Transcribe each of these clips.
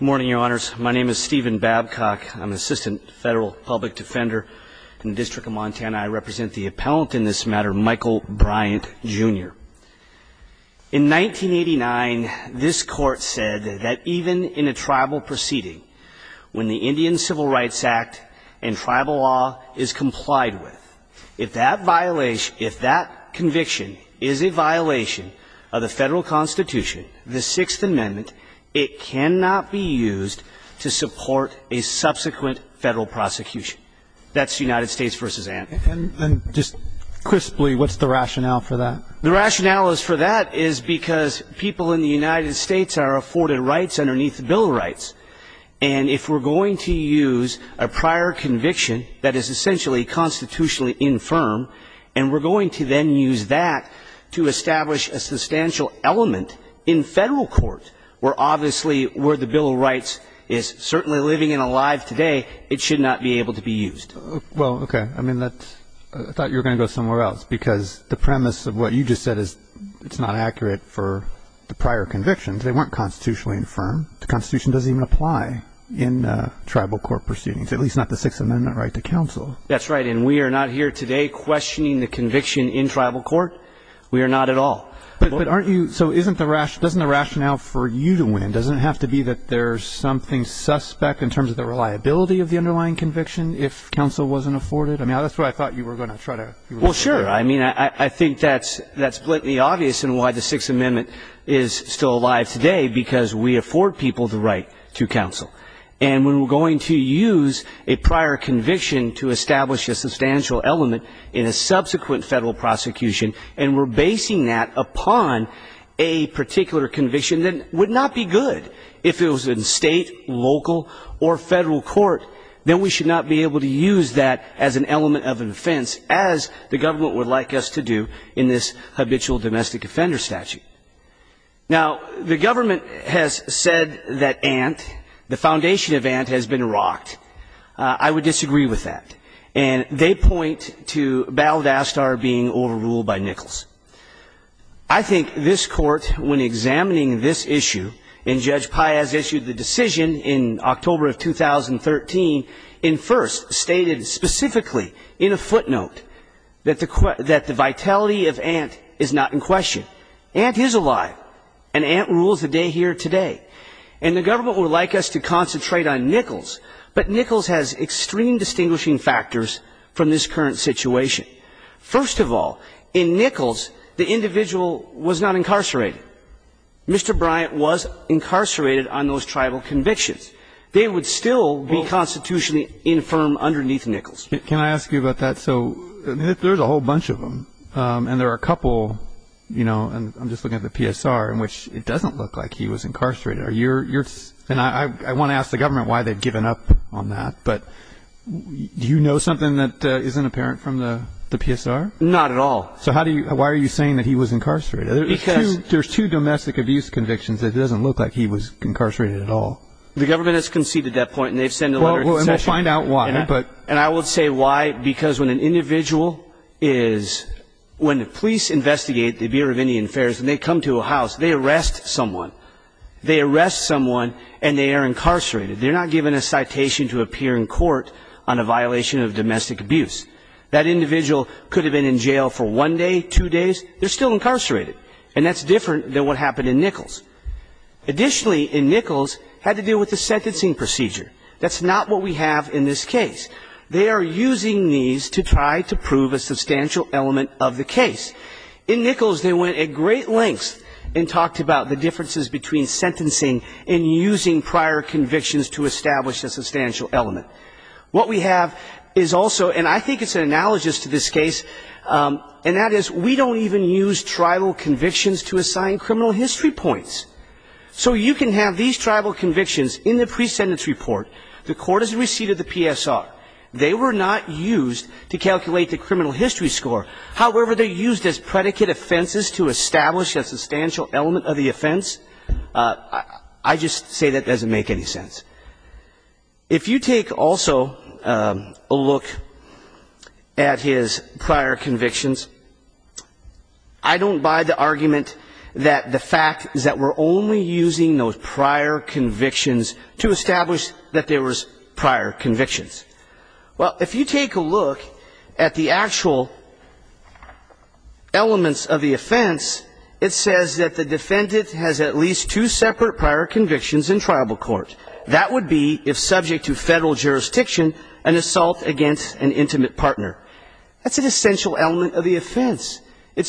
Good morning, Your Honors. My name is Stephen Babcock. I'm an assistant federal public defender in the District of Montana. I represent the appellant in this matter, Michael Bryant, Jr. In 1989, this Court said that even in a tribal proceeding, when the Indian Civil Rights Act and tribal law is complied with, if that violation, if that conviction is a violation of the federal Constitution, the Sixth Amendment, it cannot be used to support a subsequent federal prosecution. That's United States v. And. And just crisply, what's the rationale for that? The rationale for that is because people in the United States are afforded rights underneath the bill of rights. And if we're going to use a prior conviction that is essentially constitutionally infirm, and we're going to then use that to establish a substantial element in federal court, where obviously where the bill of rights is certainly living and alive today, it should not be able to be used. Well, okay. I mean, that's – I thought you were going to go somewhere else, because the premise of what you just said is it's not accurate for the prior convictions. They weren't constitutionally infirm. The Constitution doesn't even apply in tribal court proceedings, at least not the Sixth Amendment right to counsel. That's right. And we are not here today questioning the conviction in tribal court. We are not at all. But aren't you – so isn't the – doesn't the rationale for you to win, doesn't it have to be that there's something suspect in terms of the reliability of the underlying conviction if counsel wasn't afforded? I mean, that's what I thought you were going to try to – Well, sure. I mean, I think that's blatantly obvious in why the Sixth Amendment is still alive today, because we afford people the right to counsel. And when we're going to use a prior conviction to establish a substantial element in a subsequent federal prosecution and we're basing that upon a particular conviction, then it would not be good. If it was in state, local, or federal court, then we should not be able to use that as an element of an offense, as the government would like us to do in this habitual domestic offender statute. Now, the government has said that Ant, the foundation of Ant, has been rocked. I would disagree with that. And they point to Balladastar being overruled by Nichols. I think this court, when examining this issue, and Judge Piaz issued the decision in October of 2013, in first, stated specifically in a footnote that the vitality of Ant is not in question. Ant is alive, and Ant rules the day here today. And the government would like us to concentrate on Nichols, but Nichols has extreme distinguishing factors from this current situation. First of all, in Nichols, the individual was not incarcerated. Mr. Bryant was incarcerated on those tribal convictions. They would still be constitutionally infirm underneath Nichols. Can I ask you about that? So there's a whole bunch of them. And there are a couple, you know, and I'm just looking at the PSR, in which it doesn't look like he was incarcerated. And I want to ask the government why they've given up on that. But do you know something that isn't apparent from the PSR? Not at all. So how do you, why are you saying that he was incarcerated? Because There's two domestic abuse convictions that it doesn't look like he was incarcerated at all. The government has conceded that point, and they've sent a letter to Session. And we'll find out why. And I will say why, because when an individual is, when the police investigate the Bureau of Indian Affairs, and they come to a house, they arrest someone. They arrest someone, and they are incarcerated. They're not given a citation to appear in court on a violation of domestic abuse. That individual could have been in jail for one day, two days, they're still incarcerated. And that's different than what happened in Nichols. Additionally, in this case, they are using these to try to prove a substantial element of the case. In Nichols, they went at great lengths and talked about the differences between sentencing and using prior convictions to establish a substantial element. What we have is also, and I think it's an analogous to this case, and that is we don't even use tribal convictions to assign criminal history points. So you can have these convictions, and they were not used to calculate the criminal history score. However, they are used as predicate offenses to establish a substantial element of the offense. I just say that doesn't make any sense. If you take also a look at his prior convictions, I don't buy the argument that the fact is that we're only using those prior convictions to establish that there was prior convictions. Well, if you take a look at the actual elements of the offense, it says that the defendant has at least two separate prior convictions in tribal court. That would be, if subject to federal jurisdiction, an assault against an intimate partner. That's an essential element of the offense. That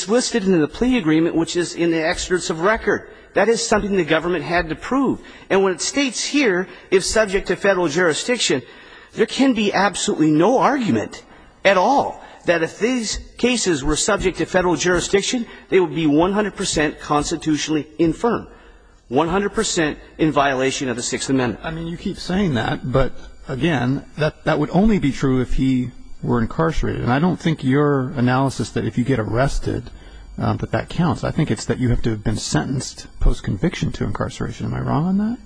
is something the government had to prove. And when it states here if subject to federal jurisdiction, there can be absolutely no argument at all that if these cases were subject to federal jurisdiction, they would be 100 percent constitutionally infirm, 100 percent in violation of the Sixth Amendment. I mean, you keep saying that, but again, that would only be true if he were incarcerated. And I don't think your analysis that if you get arrested, that that counts. I think it's that you have to have been sentenced post-conviction to incarceration. Am I wrong on that?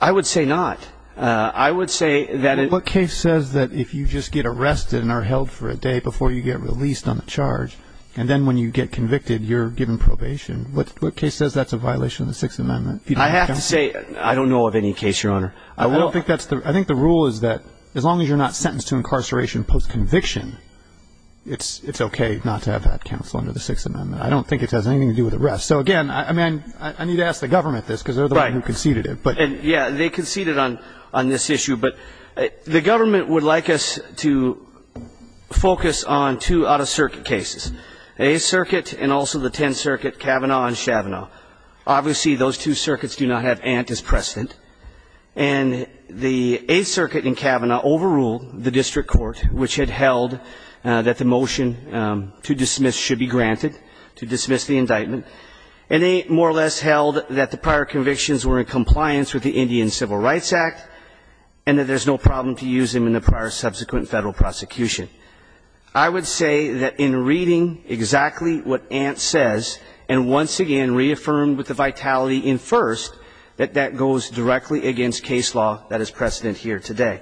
I would say not. I would say that it What case says that if you just get arrested and are held for a day before you get released on the charge, and then when you get convicted, you're given probation, what case says that's a violation of the Sixth Amendment? I have to say I don't know of any case, Your Honor. I think the rule is that as long as you're not sentenced to incarceration post-conviction, it's okay not to have that counsel under the Sixth Amendment. I don't think it has anything to do with arrest. So again, I mean, I need to ask the government this, because they're the one who conceded it. Yeah, they conceded on this issue. But the government would like us to focus on two out-of-circuit as precedent, and the Eighth Circuit in Kavanaugh overruled the district court, which had held that the motion to dismiss should be granted, to dismiss the indictment, and they more or less held that the prior convictions were in compliance with the Indian Civil Rights Act, and that there's no problem to use them in the prior subsequent federal prosecution. I would say that in reading exactly what Ant says, and once again reaffirmed with the vitality in first, that that goes directly against case law that is precedent here today.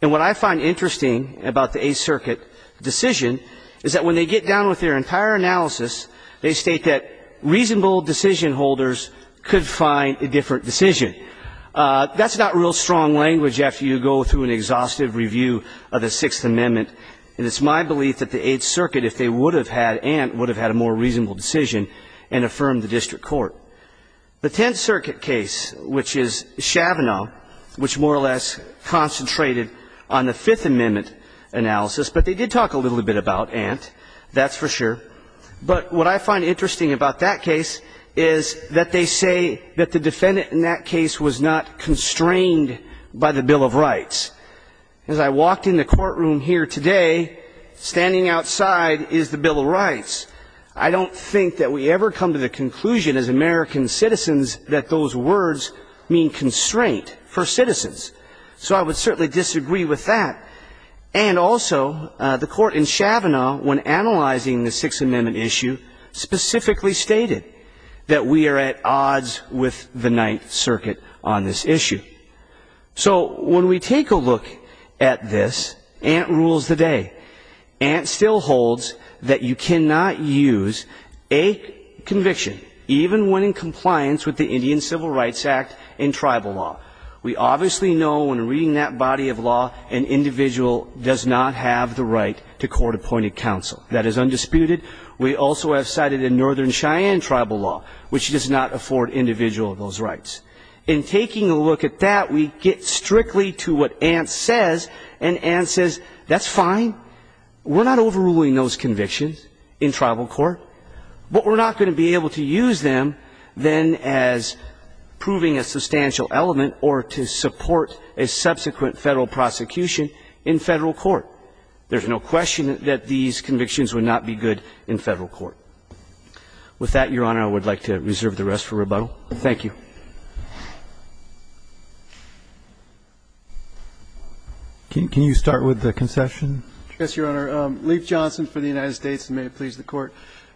And what I find interesting about the Eighth Circuit decision is that when they get down with their entire analysis, they state that reasonable decision holders could find a different decision. That's not real strong language after you go through an exhaustive review of the Sixth Amendment, and it's my belief that the Eighth Circuit, if they would have had Ant, would have had a more reasonable decision and affirmed the district court. The Tenth Circuit case, which is Kavanaugh, which more or less concentrated on the Fifth Amendment analysis, but they did talk a little bit about Ant, that's for sure. But what I find interesting about that case is that they say that the defendant in that case was not constrained by the Bill of Rights. As I walked in the courtroom here today, standing outside is the Bill of Rights. I don't think that we ever come to the conclusion as American citizens that those words mean constraint for citizens. So I would certainly disagree with that. And also, the Court in Kavanaugh, when analyzing the Sixth Amendment issue, specifically stated that we are at odds with the Ninth Circuit on this issue. So when we take a look at this, Ant rules the day. Ant still holds that you cannot use a conviction, even when in compliance with the Indian Civil Rights Act and does not have the right to court-appointed counsel. That is undisputed. We also have cited a Northern Cheyenne tribal law, which does not afford individual those rights. In taking a look at that, we get strictly to what Ant says, and Ant says, that's fine. We're not overruling those convictions in tribal court, but we're not going to be able to use them then as proving a substantial element or to support a subsequent federal prosecution in federal court. There's no question that these convictions would not be good in federal court. With that, Your Honor, I would like to reserve the rest for rebuttal. Thank you. Roberts. Can you start with the concession? Yes, Your Honor. Leif Johnson for the United States, and may it please the Court.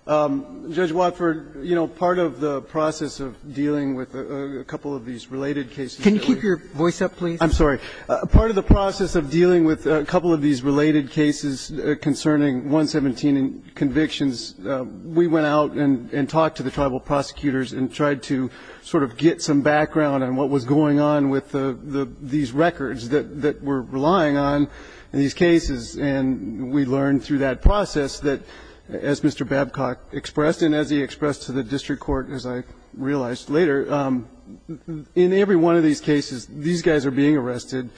Judge Watford, you know, part of the process of dealing with a couple of these related cases that we're dealing with. Can you keep your voice up, please? I'm sorry. Part of the process of dealing with a couple of these related cases concerning 117 convictions, we went out and talked to the tribal prosecutors and tried to sort of get some background on what was going on with these records that we're relying on in these cases. And we learned through that process that, as Mr. Babcock expressed and as he expressed to the district court, as I realized later, in every one of these cases, these guys are being arrested.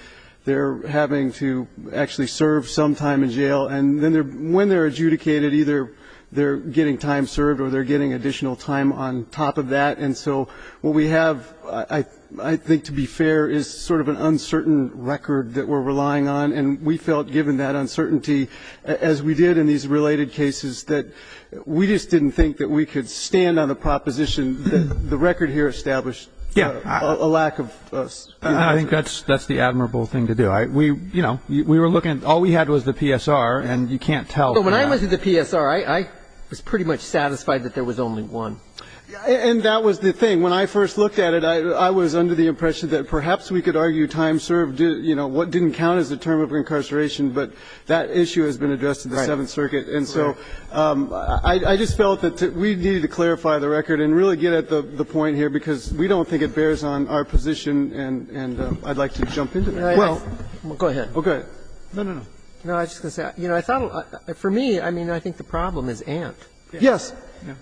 They're having to actually serve some time in jail. And then when they're adjudicated, either they're getting time served or they're getting additional time on top of that. And so what we have, I think, to be fair, is sort of an uncertain record that we're relying on. And we felt, given that uncertainty, as we did in these related cases, that we just didn't think that we could stand on the proposition that the record here established a lack of certainty. I think that's the admirable thing to do. We, you know, we were looking. All we had was the PSR, and you can't tell. But when I was at the PSR, I was pretty much satisfied that there was only one. And that was the thing. When I first looked at it, I was under the impression that perhaps we could argue time served, you know, what didn't count as a term of incarceration, but that issue has been addressed in the Seventh Circuit. And so I just felt that we needed to clarify the record and really get at the point in here, because we don't think it bears on our position. And I'd like to jump into that. Well, go ahead. Go ahead. No, no, no. No, I was just going to say, you know, I thought for me, I mean, I think the problem is Ant. Yes.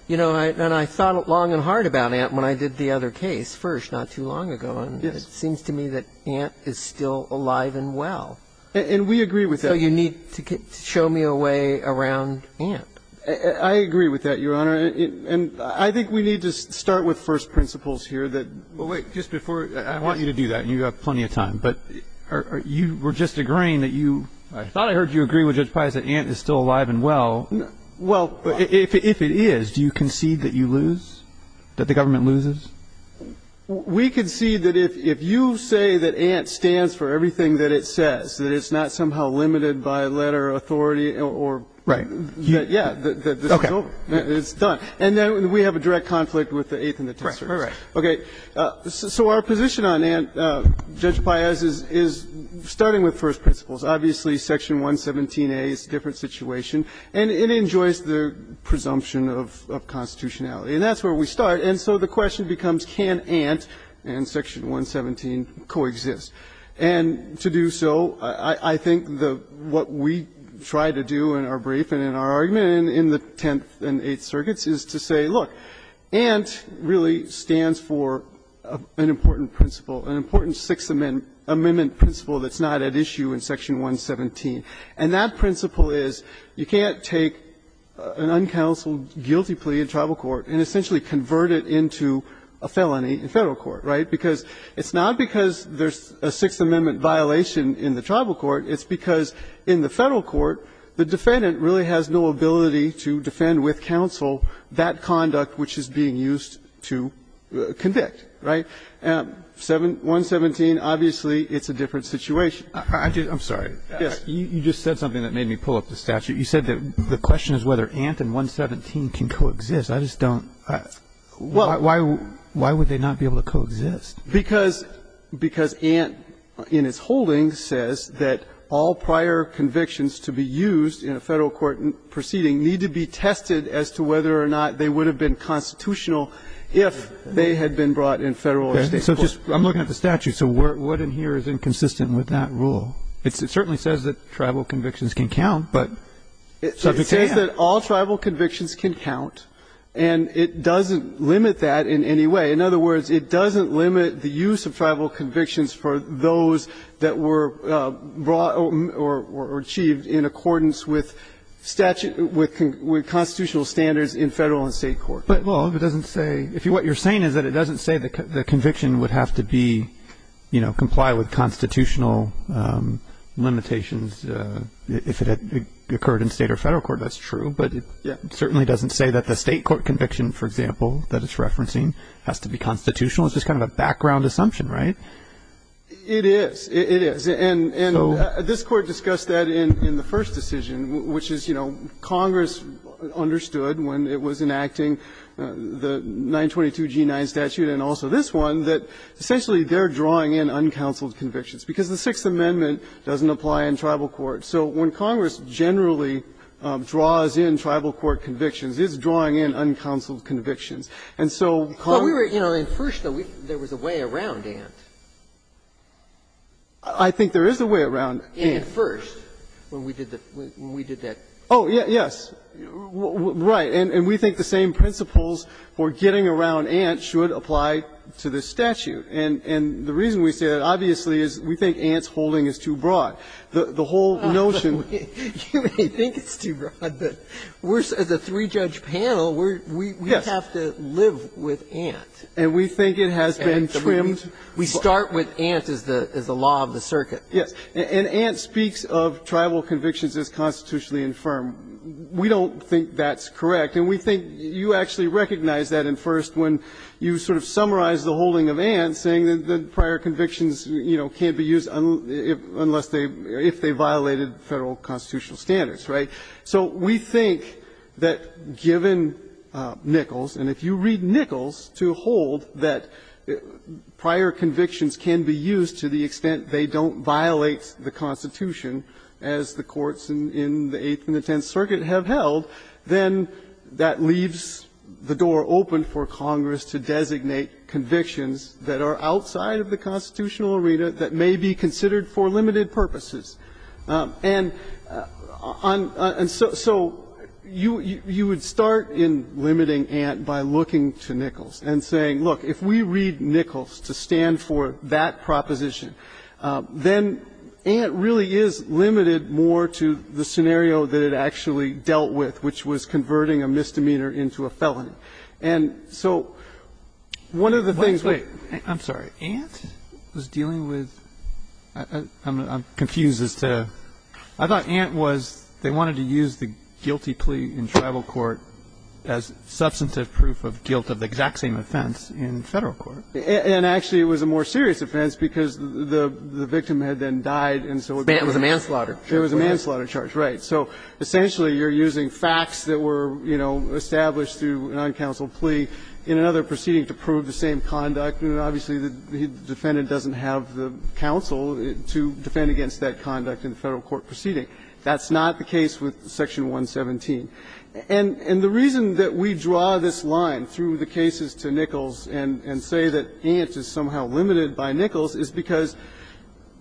You know, and I thought long and hard about Ant when I did the other case first not too long ago. Yes. And it seems to me that Ant is still alive and well. And we agree with that. So you need to show me a way around Ant. I agree with that, Your Honor. And I think we need to start with first principles here that – Well, wait. Just before – I want you to do that, and you have plenty of time. But you were just agreeing that you – I thought I heard you agree with Judge Pius that Ant is still alive and well. Well, if it is, do you concede that you lose, that the government loses? We concede that if you say that Ant stands for everything that it says, that it's not somehow limited by letter of authority or – Right. Yeah. Okay. It's done. And then we have a direct conflict with the Eighth and the Tenth Circuit. Right, right, right. Okay. So our position on Ant, Judge Pius, is starting with first principles. Obviously, Section 117a is a different situation. And it enjoys the presumption of constitutionality. And that's where we start. And so the question becomes, can Ant and Section 117 coexist? And to do so, I think the – what we try to do in our brief and in our argument in the Tenth and Eighth Circuits is to say, look, Ant really stands for an important principle, an important Sixth Amendment principle that's not at issue in Section 117. And that principle is you can't take an uncounseled guilty plea in tribal court and essentially convert it into a felony in Federal court, right? Because it's not because there's a Sixth Amendment violation in the tribal court, it's because in the Federal court, the defendant really has no ability to defend with counsel that conduct which is being used to convict, right? And 117, obviously, it's a different situation. I'm sorry. Yes. You just said something that made me pull up the statute. You said that the question is whether Ant and 117 can coexist. I just don't – why would they not be able to coexist? Because – because Ant in its holdings says that all prior convictions to be used in a Federal court proceeding need to be tested as to whether or not they would have been constitutional if they had been brought in Federal or State court. Okay. So just – I'm looking at the statute. So what in here is inconsistent with that rule? It certainly says that tribal convictions can count, but subject to Ant. It says that all tribal convictions can count, and it doesn't limit that in any way. In other words, it doesn't limit the use of tribal convictions for those that were brought or achieved in accordance with statute – with constitutional standards in Federal and State court. Well, if it doesn't say – if what you're saying is that it doesn't say the conviction would have to be, you know, comply with constitutional limitations if it had occurred in State or Federal court, that's true. But it certainly doesn't say that the State court conviction, for example, that it has to be constitutional. It's just kind of a background assumption, right? It is. It is. And this Court discussed that in the first decision, which is, you know, Congress understood when it was enacting the 922g9 statute and also this one, that essentially they're drawing in uncounseled convictions, because the Sixth Amendment doesn't apply in tribal courts. So when Congress generally draws in tribal court convictions, it's drawing in uncounseled convictions. And so Congress – But we were, you know, at first, though, there was a way around Ant. I think there is a way around Ant. At first, when we did the – when we did that. Oh, yes. Right. And we think the same principles for getting around Ant should apply to this statute. And the reason we say that, obviously, is we think Ant's holding is too broad. The whole notion – You may think it's too broad, but we're – as a three-judge panel, we have to – we have to live with Ant. And we think it has been trimmed. We start with Ant as the law of the circuit. Yes. And Ant speaks of tribal convictions as constitutionally infirm. We don't think that's correct. And we think you actually recognize that in first when you sort of summarize the holding of Ant, saying that prior convictions, you know, can't be used unless they – if they violated Federal constitutional standards, right? So we think that given Nichols, and if you read Nichols to hold that prior convictions can be used to the extent they don't violate the Constitution as the courts in the Eighth and the Tenth Circuit have held, then that leaves the door open for Congress to designate convictions that are outside of the constitutional arena that may be considered for limited purposes. And on – and so you would start in limiting Ant by looking to Nichols and saying, look, if we read Nichols to stand for that proposition, then Ant really is limited more to the scenario that it actually dealt with, which was converting a misdemeanor into a felony. And so one of the things we're – I'm sorry. Ant was dealing with – I'm confused as to – I thought Ant was – they wanted to use the guilty plea in tribal court as substantive proof of guilt of the exact same offense in Federal court. And actually, it was a more serious offense because the victim had then died, and so it was a manslaughter. It was a manslaughter charge, right. So essentially, you're using facts that were, you know, established through a non-counsel plea in another proceeding to prove the same conduct. And obviously, the defendant doesn't have the counsel to defend against that conduct in the Federal court proceeding. That's not the case with Section 117. And the reason that we draw this line through the cases to Nichols and say that Ant is somehow limited by Nichols is because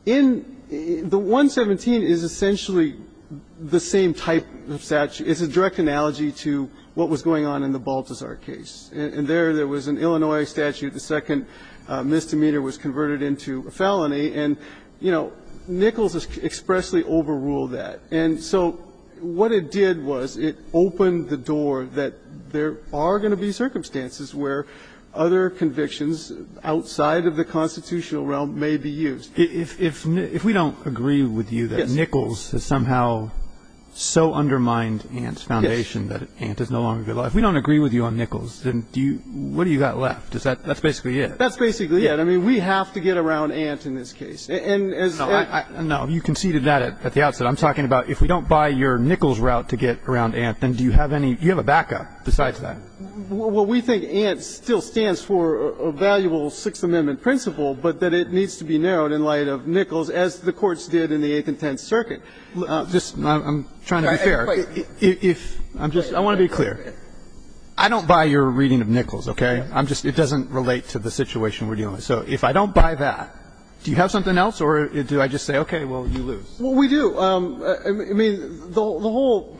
in – the 117 is essentially the same type of statute – it's a direct analogy to what was going on in the Baltazar case. And there, there was an Illinois statute, the second misdemeanor was converted into a felony, and, you know, Nichols expressly overruled that. And so what it did was it opened the door that there are going to be circumstances where other convictions outside of the constitutional realm may be used. If we don't agree with you that Nichols has somehow so undermined Ant's foundation that Ant is no longer – if we don't agree with you on Nichols, then do you – what do you got left? Is that – that's basically it. That's basically it. I mean, we have to get around Ant in this case. And as – No, I – no, you conceded that at the outset. I'm talking about if we don't buy your Nichols route to get around Ant, then do you have any – do you have a backup besides that? Well, we think Ant still stands for a valuable Sixth Amendment principle, but that it needs to be narrowed in light of Nichols, as the courts did in the Eighth and Tenth Circuit. Just – I'm trying to be fair. If – I'm just – I want to be clear. I don't buy your reading of Nichols, okay? I'm just – it doesn't relate to the situation we're dealing with. So if I don't buy that, do you have something else, or do I just say, okay, well, you lose? Well, we do. I mean, the whole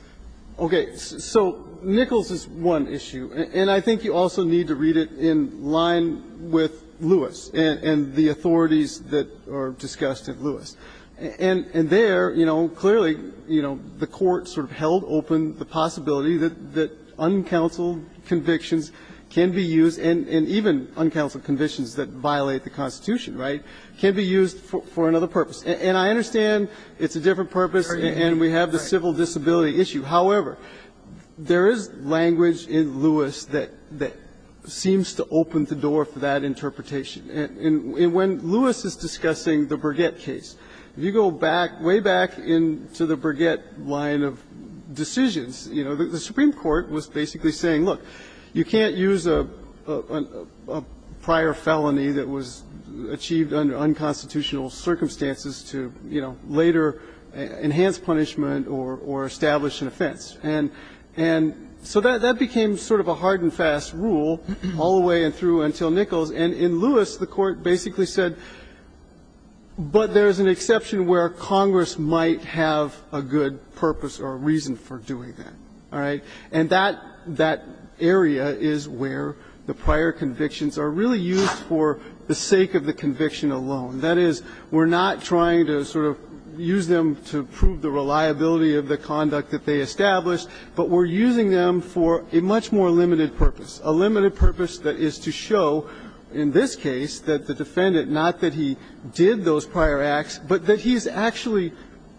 – okay. So Nichols is one issue, and I think you also need to read it in line with Lewis and the authorities that are discussed at Lewis. And there, you know, clearly, you know, the Court sort of held open the possibility that uncounseled convictions can be used, and even uncounseled convictions that violate the Constitution, right, can be used for another purpose. And I understand it's a different purpose and we have the civil disability issue. However, there is language in Lewis that seems to open the door for that interpretation, and when Lewis is discussing the Burgett case, if you go back – way back into the Burgett line of decisions, you know, the Supreme Court was basically saying, look, you can't use a prior felony that was achieved under unconstitutional circumstances to, you know, later enhance punishment or establish an offense. And so that became sort of a hard and fast rule all the way through until Nichols. And in Lewis, the Court basically said, but there's an exception where Congress might have a good purpose or a reason for doing that, all right? And that area is where the prior convictions are really used for the sake of the conviction alone. That is, we're not trying to sort of use them to prove the reliability of the conduct that they established, but we're using them for a much more limited purpose, a limited purpose that is to show, in this case, that the defendant, not that he did those prior acts, but that he's actually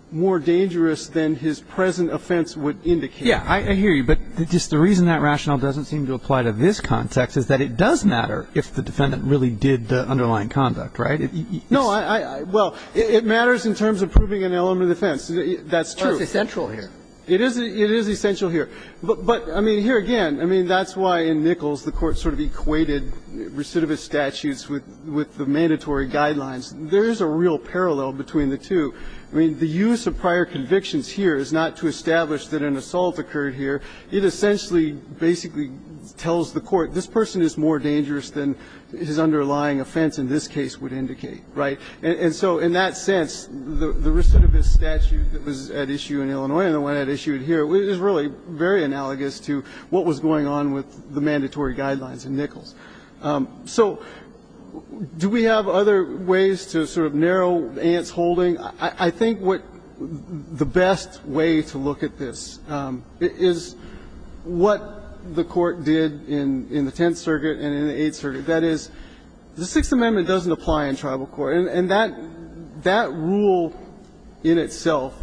more dangerous than his present offense would indicate. Yeah, I hear you. But just the reason that rationale doesn't seem to apply to this context is that it does matter if the defendant really did the underlying conduct, right? No, I – well, it matters in terms of proving an element of defense. That's true. True. It's essential here. It is essential here. But, I mean, here again, I mean, that's why in Nichols the Court sort of equated recidivist statutes with the mandatory guidelines. There is a real parallel between the two. I mean, the use of prior convictions here is not to establish that an assault occurred here. It essentially basically tells the Court, this person is more dangerous than his underlying offense in this case would indicate, right? And so in that sense, the recidivist statute that was at issue in Illinois and the one that issued here is really very analogous to what was going on with the mandatory guidelines in Nichols. So do we have other ways to sort of narrow Ant's holding? I think what the best way to look at this is what the Court did in the Tenth Circuit and in the Eighth Circuit. That is, the Sixth Amendment doesn't apply in tribal court. And that rule in itself,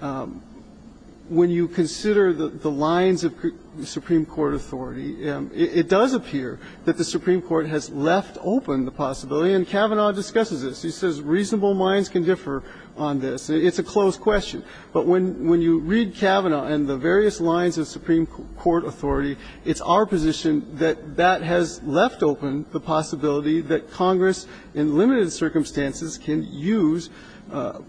when you consider the lines of the Supreme Court authority, it does appear that the Supreme Court has left open the possibility. And Kavanaugh discusses this. He says reasonable minds can differ on this. It's a close question. But when you read Kavanaugh and the various lines of Supreme Court authority, it's our position that that has left open the possibility that Congress, in limited circumstances, can use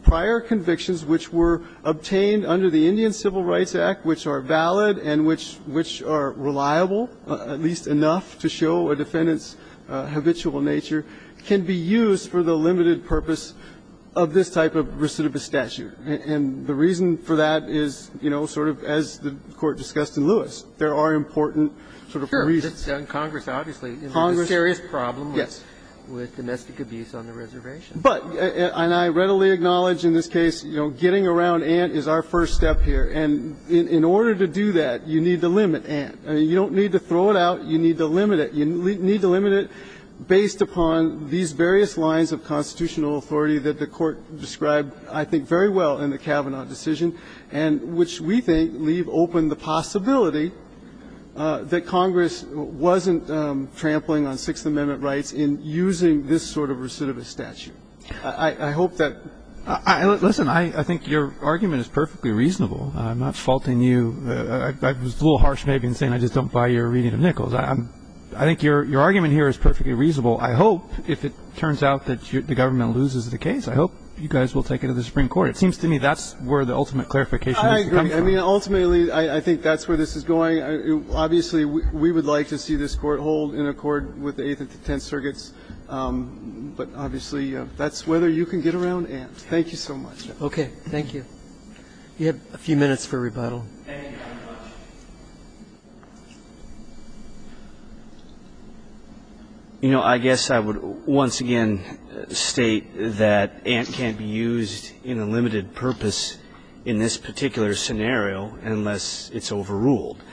prior convictions which were obtained under the Indian Civil Rights Act, which are valid and which are reliable, at least enough to show a defendant's habitual nature, can be used for the limited purpose of this type of recidivist statute. And the reason for that is, you know, sort of as the Court discussed in Lewis, there are important sort of reasons. And Congress obviously has a serious problem with domestic abuse on the reservation. But, and I readily acknowledge in this case, you know, getting around Ant is our first step here. And in order to do that, you need to limit Ant. You don't need to throw it out. You need to limit it. You need to limit it based upon these various lines of constitutional authority that the Court described, I think, very well in the Kavanaugh decision, and which we think leave open the possibility that Congress wasn't trampling on Sixth Amendment rights in using this sort of recidivist statute. I hope that. Listen, I think your argument is perfectly reasonable. I'm not faulting you. I was a little harsh maybe in saying I just don't buy your reading of Nichols. I think your argument here is perfectly reasonable. I hope, if it turns out that the government loses the case, I hope you guys will take it to the Supreme Court. It seems to me that's where the ultimate clarification comes from. I agree. I mean, ultimately, I think that's where this is going. Obviously, we would like to see this Court hold in accord with the Eighth and the Tenth Circuits. But obviously, that's whether you can get around Ant. Thank you so much. Okay. Thank you. You have a few minutes for rebuttal. Thank you very much. You know, I guess I would once again state that Ant can't be used in a limited purpose in this particular scenario unless it's overruled.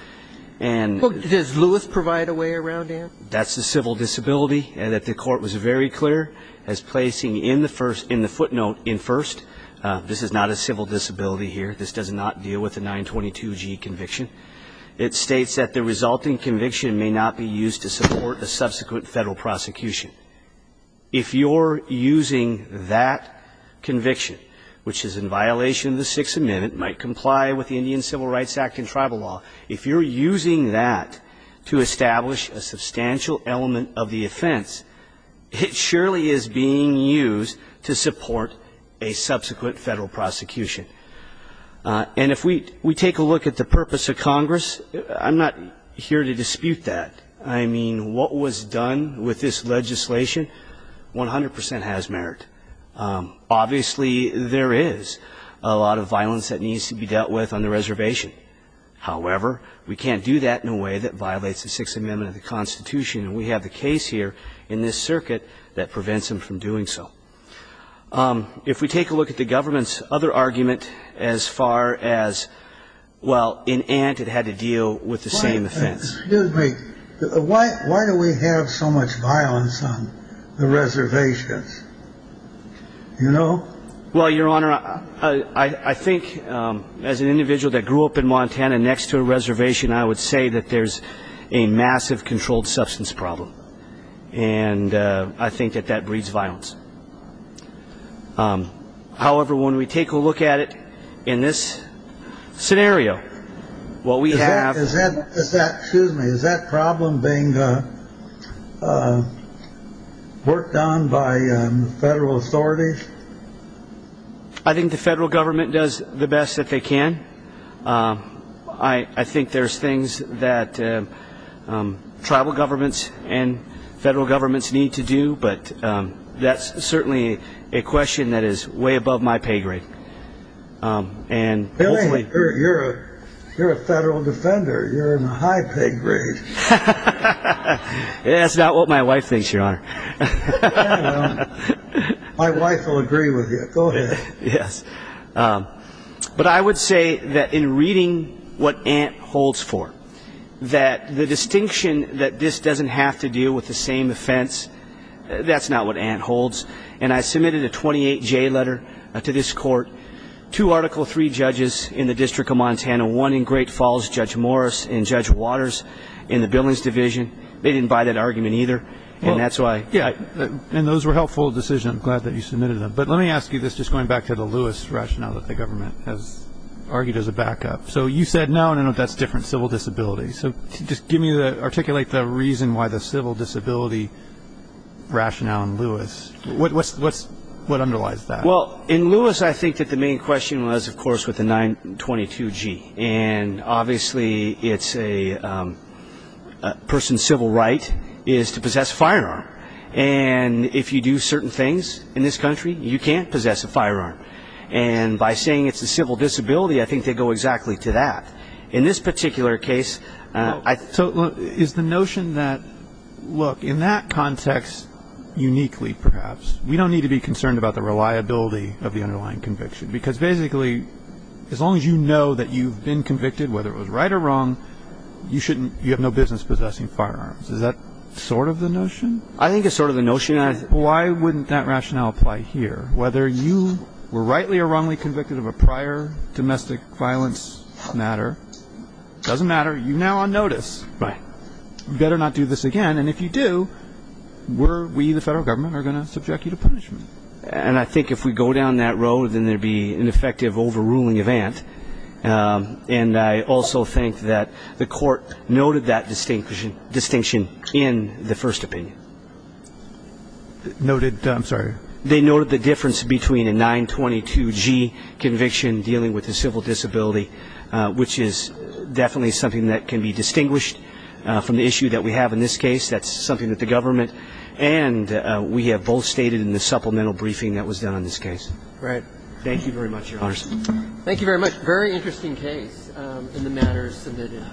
Does Lewis provide a way around Ant? That's the civil disability that the Court was very clear as placing in the footnote in first. This is not a civil disability here. This does not deal with a 922G conviction. It states that the resulting conviction may not be used to support a subsequent Federal prosecution. If you're using that conviction, which is in violation of the Sixth Amendment, might comply with the Indian Civil Rights Act and tribal law, if you're using that to establish a substantial element of the offense, it surely is being used to support a subsequent Federal prosecution. And if we take a look at the purpose of Congress, I'm not here to dispute that. I mean, what was done with this legislation 100 percent has merit. Obviously, there is a lot of violence that needs to be dealt with on the reservation. However, we can't do that in a way that violates the Sixth Amendment of the Constitution, and we have the case here in this circuit that prevents them from doing so. If we take a look at the government's other argument as far as, well, in Ant it had to deal with the same offense. Excuse me. Why do we have so much violence on the reservations? You know? Well, Your Honor, I think as an individual that grew up in Montana next to a reservation, I would say that there's a massive controlled substance problem. And I think that that breeds violence. However, when we take a look at it in this scenario, what we have Is that problem being worked on by federal authorities? I think the federal government does the best that they can. I think there's things that tribal governments and federal governments need to do, but that's certainly a question that is way above my pay grade. You're a federal defender. You're in a high pay grade. That's not what my wife thinks, Your Honor. My wife will agree with you. Go ahead. Yes. But I would say that in reading what Ant holds for, that the distinction that this doesn't have to deal with the same offense, that's not what Ant holds. And I submitted a 28-J letter to this court, two Article III judges in the District of Montana, one in Great Falls, Judge Morris, and Judge Waters in the Billings Division. They didn't buy that argument either. And that's why. Yeah. And those were helpful decisions. I'm glad that you submitted them. But let me ask you this, just going back to the Lewis rationale that the government has argued as a backup. So you said, no, no, no, that's different, civil disability. So just articulate the reason why the civil disability rationale in Lewis What underlies that? Well, in Lewis, I think that the main question was, of course, with the 922-G. And obviously, it's a person's civil right is to possess a firearm. And if you do certain things in this country, you can't possess a firearm. And by saying it's a civil disability, I think they go exactly to that. In this particular case, I thought, is the notion that, look, in that context uniquely, perhaps, we don't need to be concerned about the reliability of the underlying conviction. Because basically, as long as you know that you've been convicted, whether it was right or wrong, you have no business possessing firearms. Is that sort of the notion? I think it's sort of the notion. Why wouldn't that rationale apply here, whether you were rightly or wrongly convicted of a prior domestic violence matter? It doesn't matter. You're now on notice. Right. You better not do this again. And if you do, we, the federal government, are going to subject you to punishment. And I think if we go down that road, then there would be an effective overruling event. And I also think that the court noted that distinction in the first opinion. Noted, I'm sorry. They noted the difference between a 922-G conviction dealing with a civil disability, which is definitely something that can be distinguished from the 922-G case. That's something that the government and we have both stated in the supplemental briefing that was done on this case. Right. Thank you very much, Your Honor. Thank you very much. Very interesting case in the matters submitted.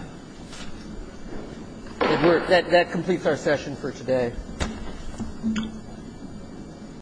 That completes our session for today.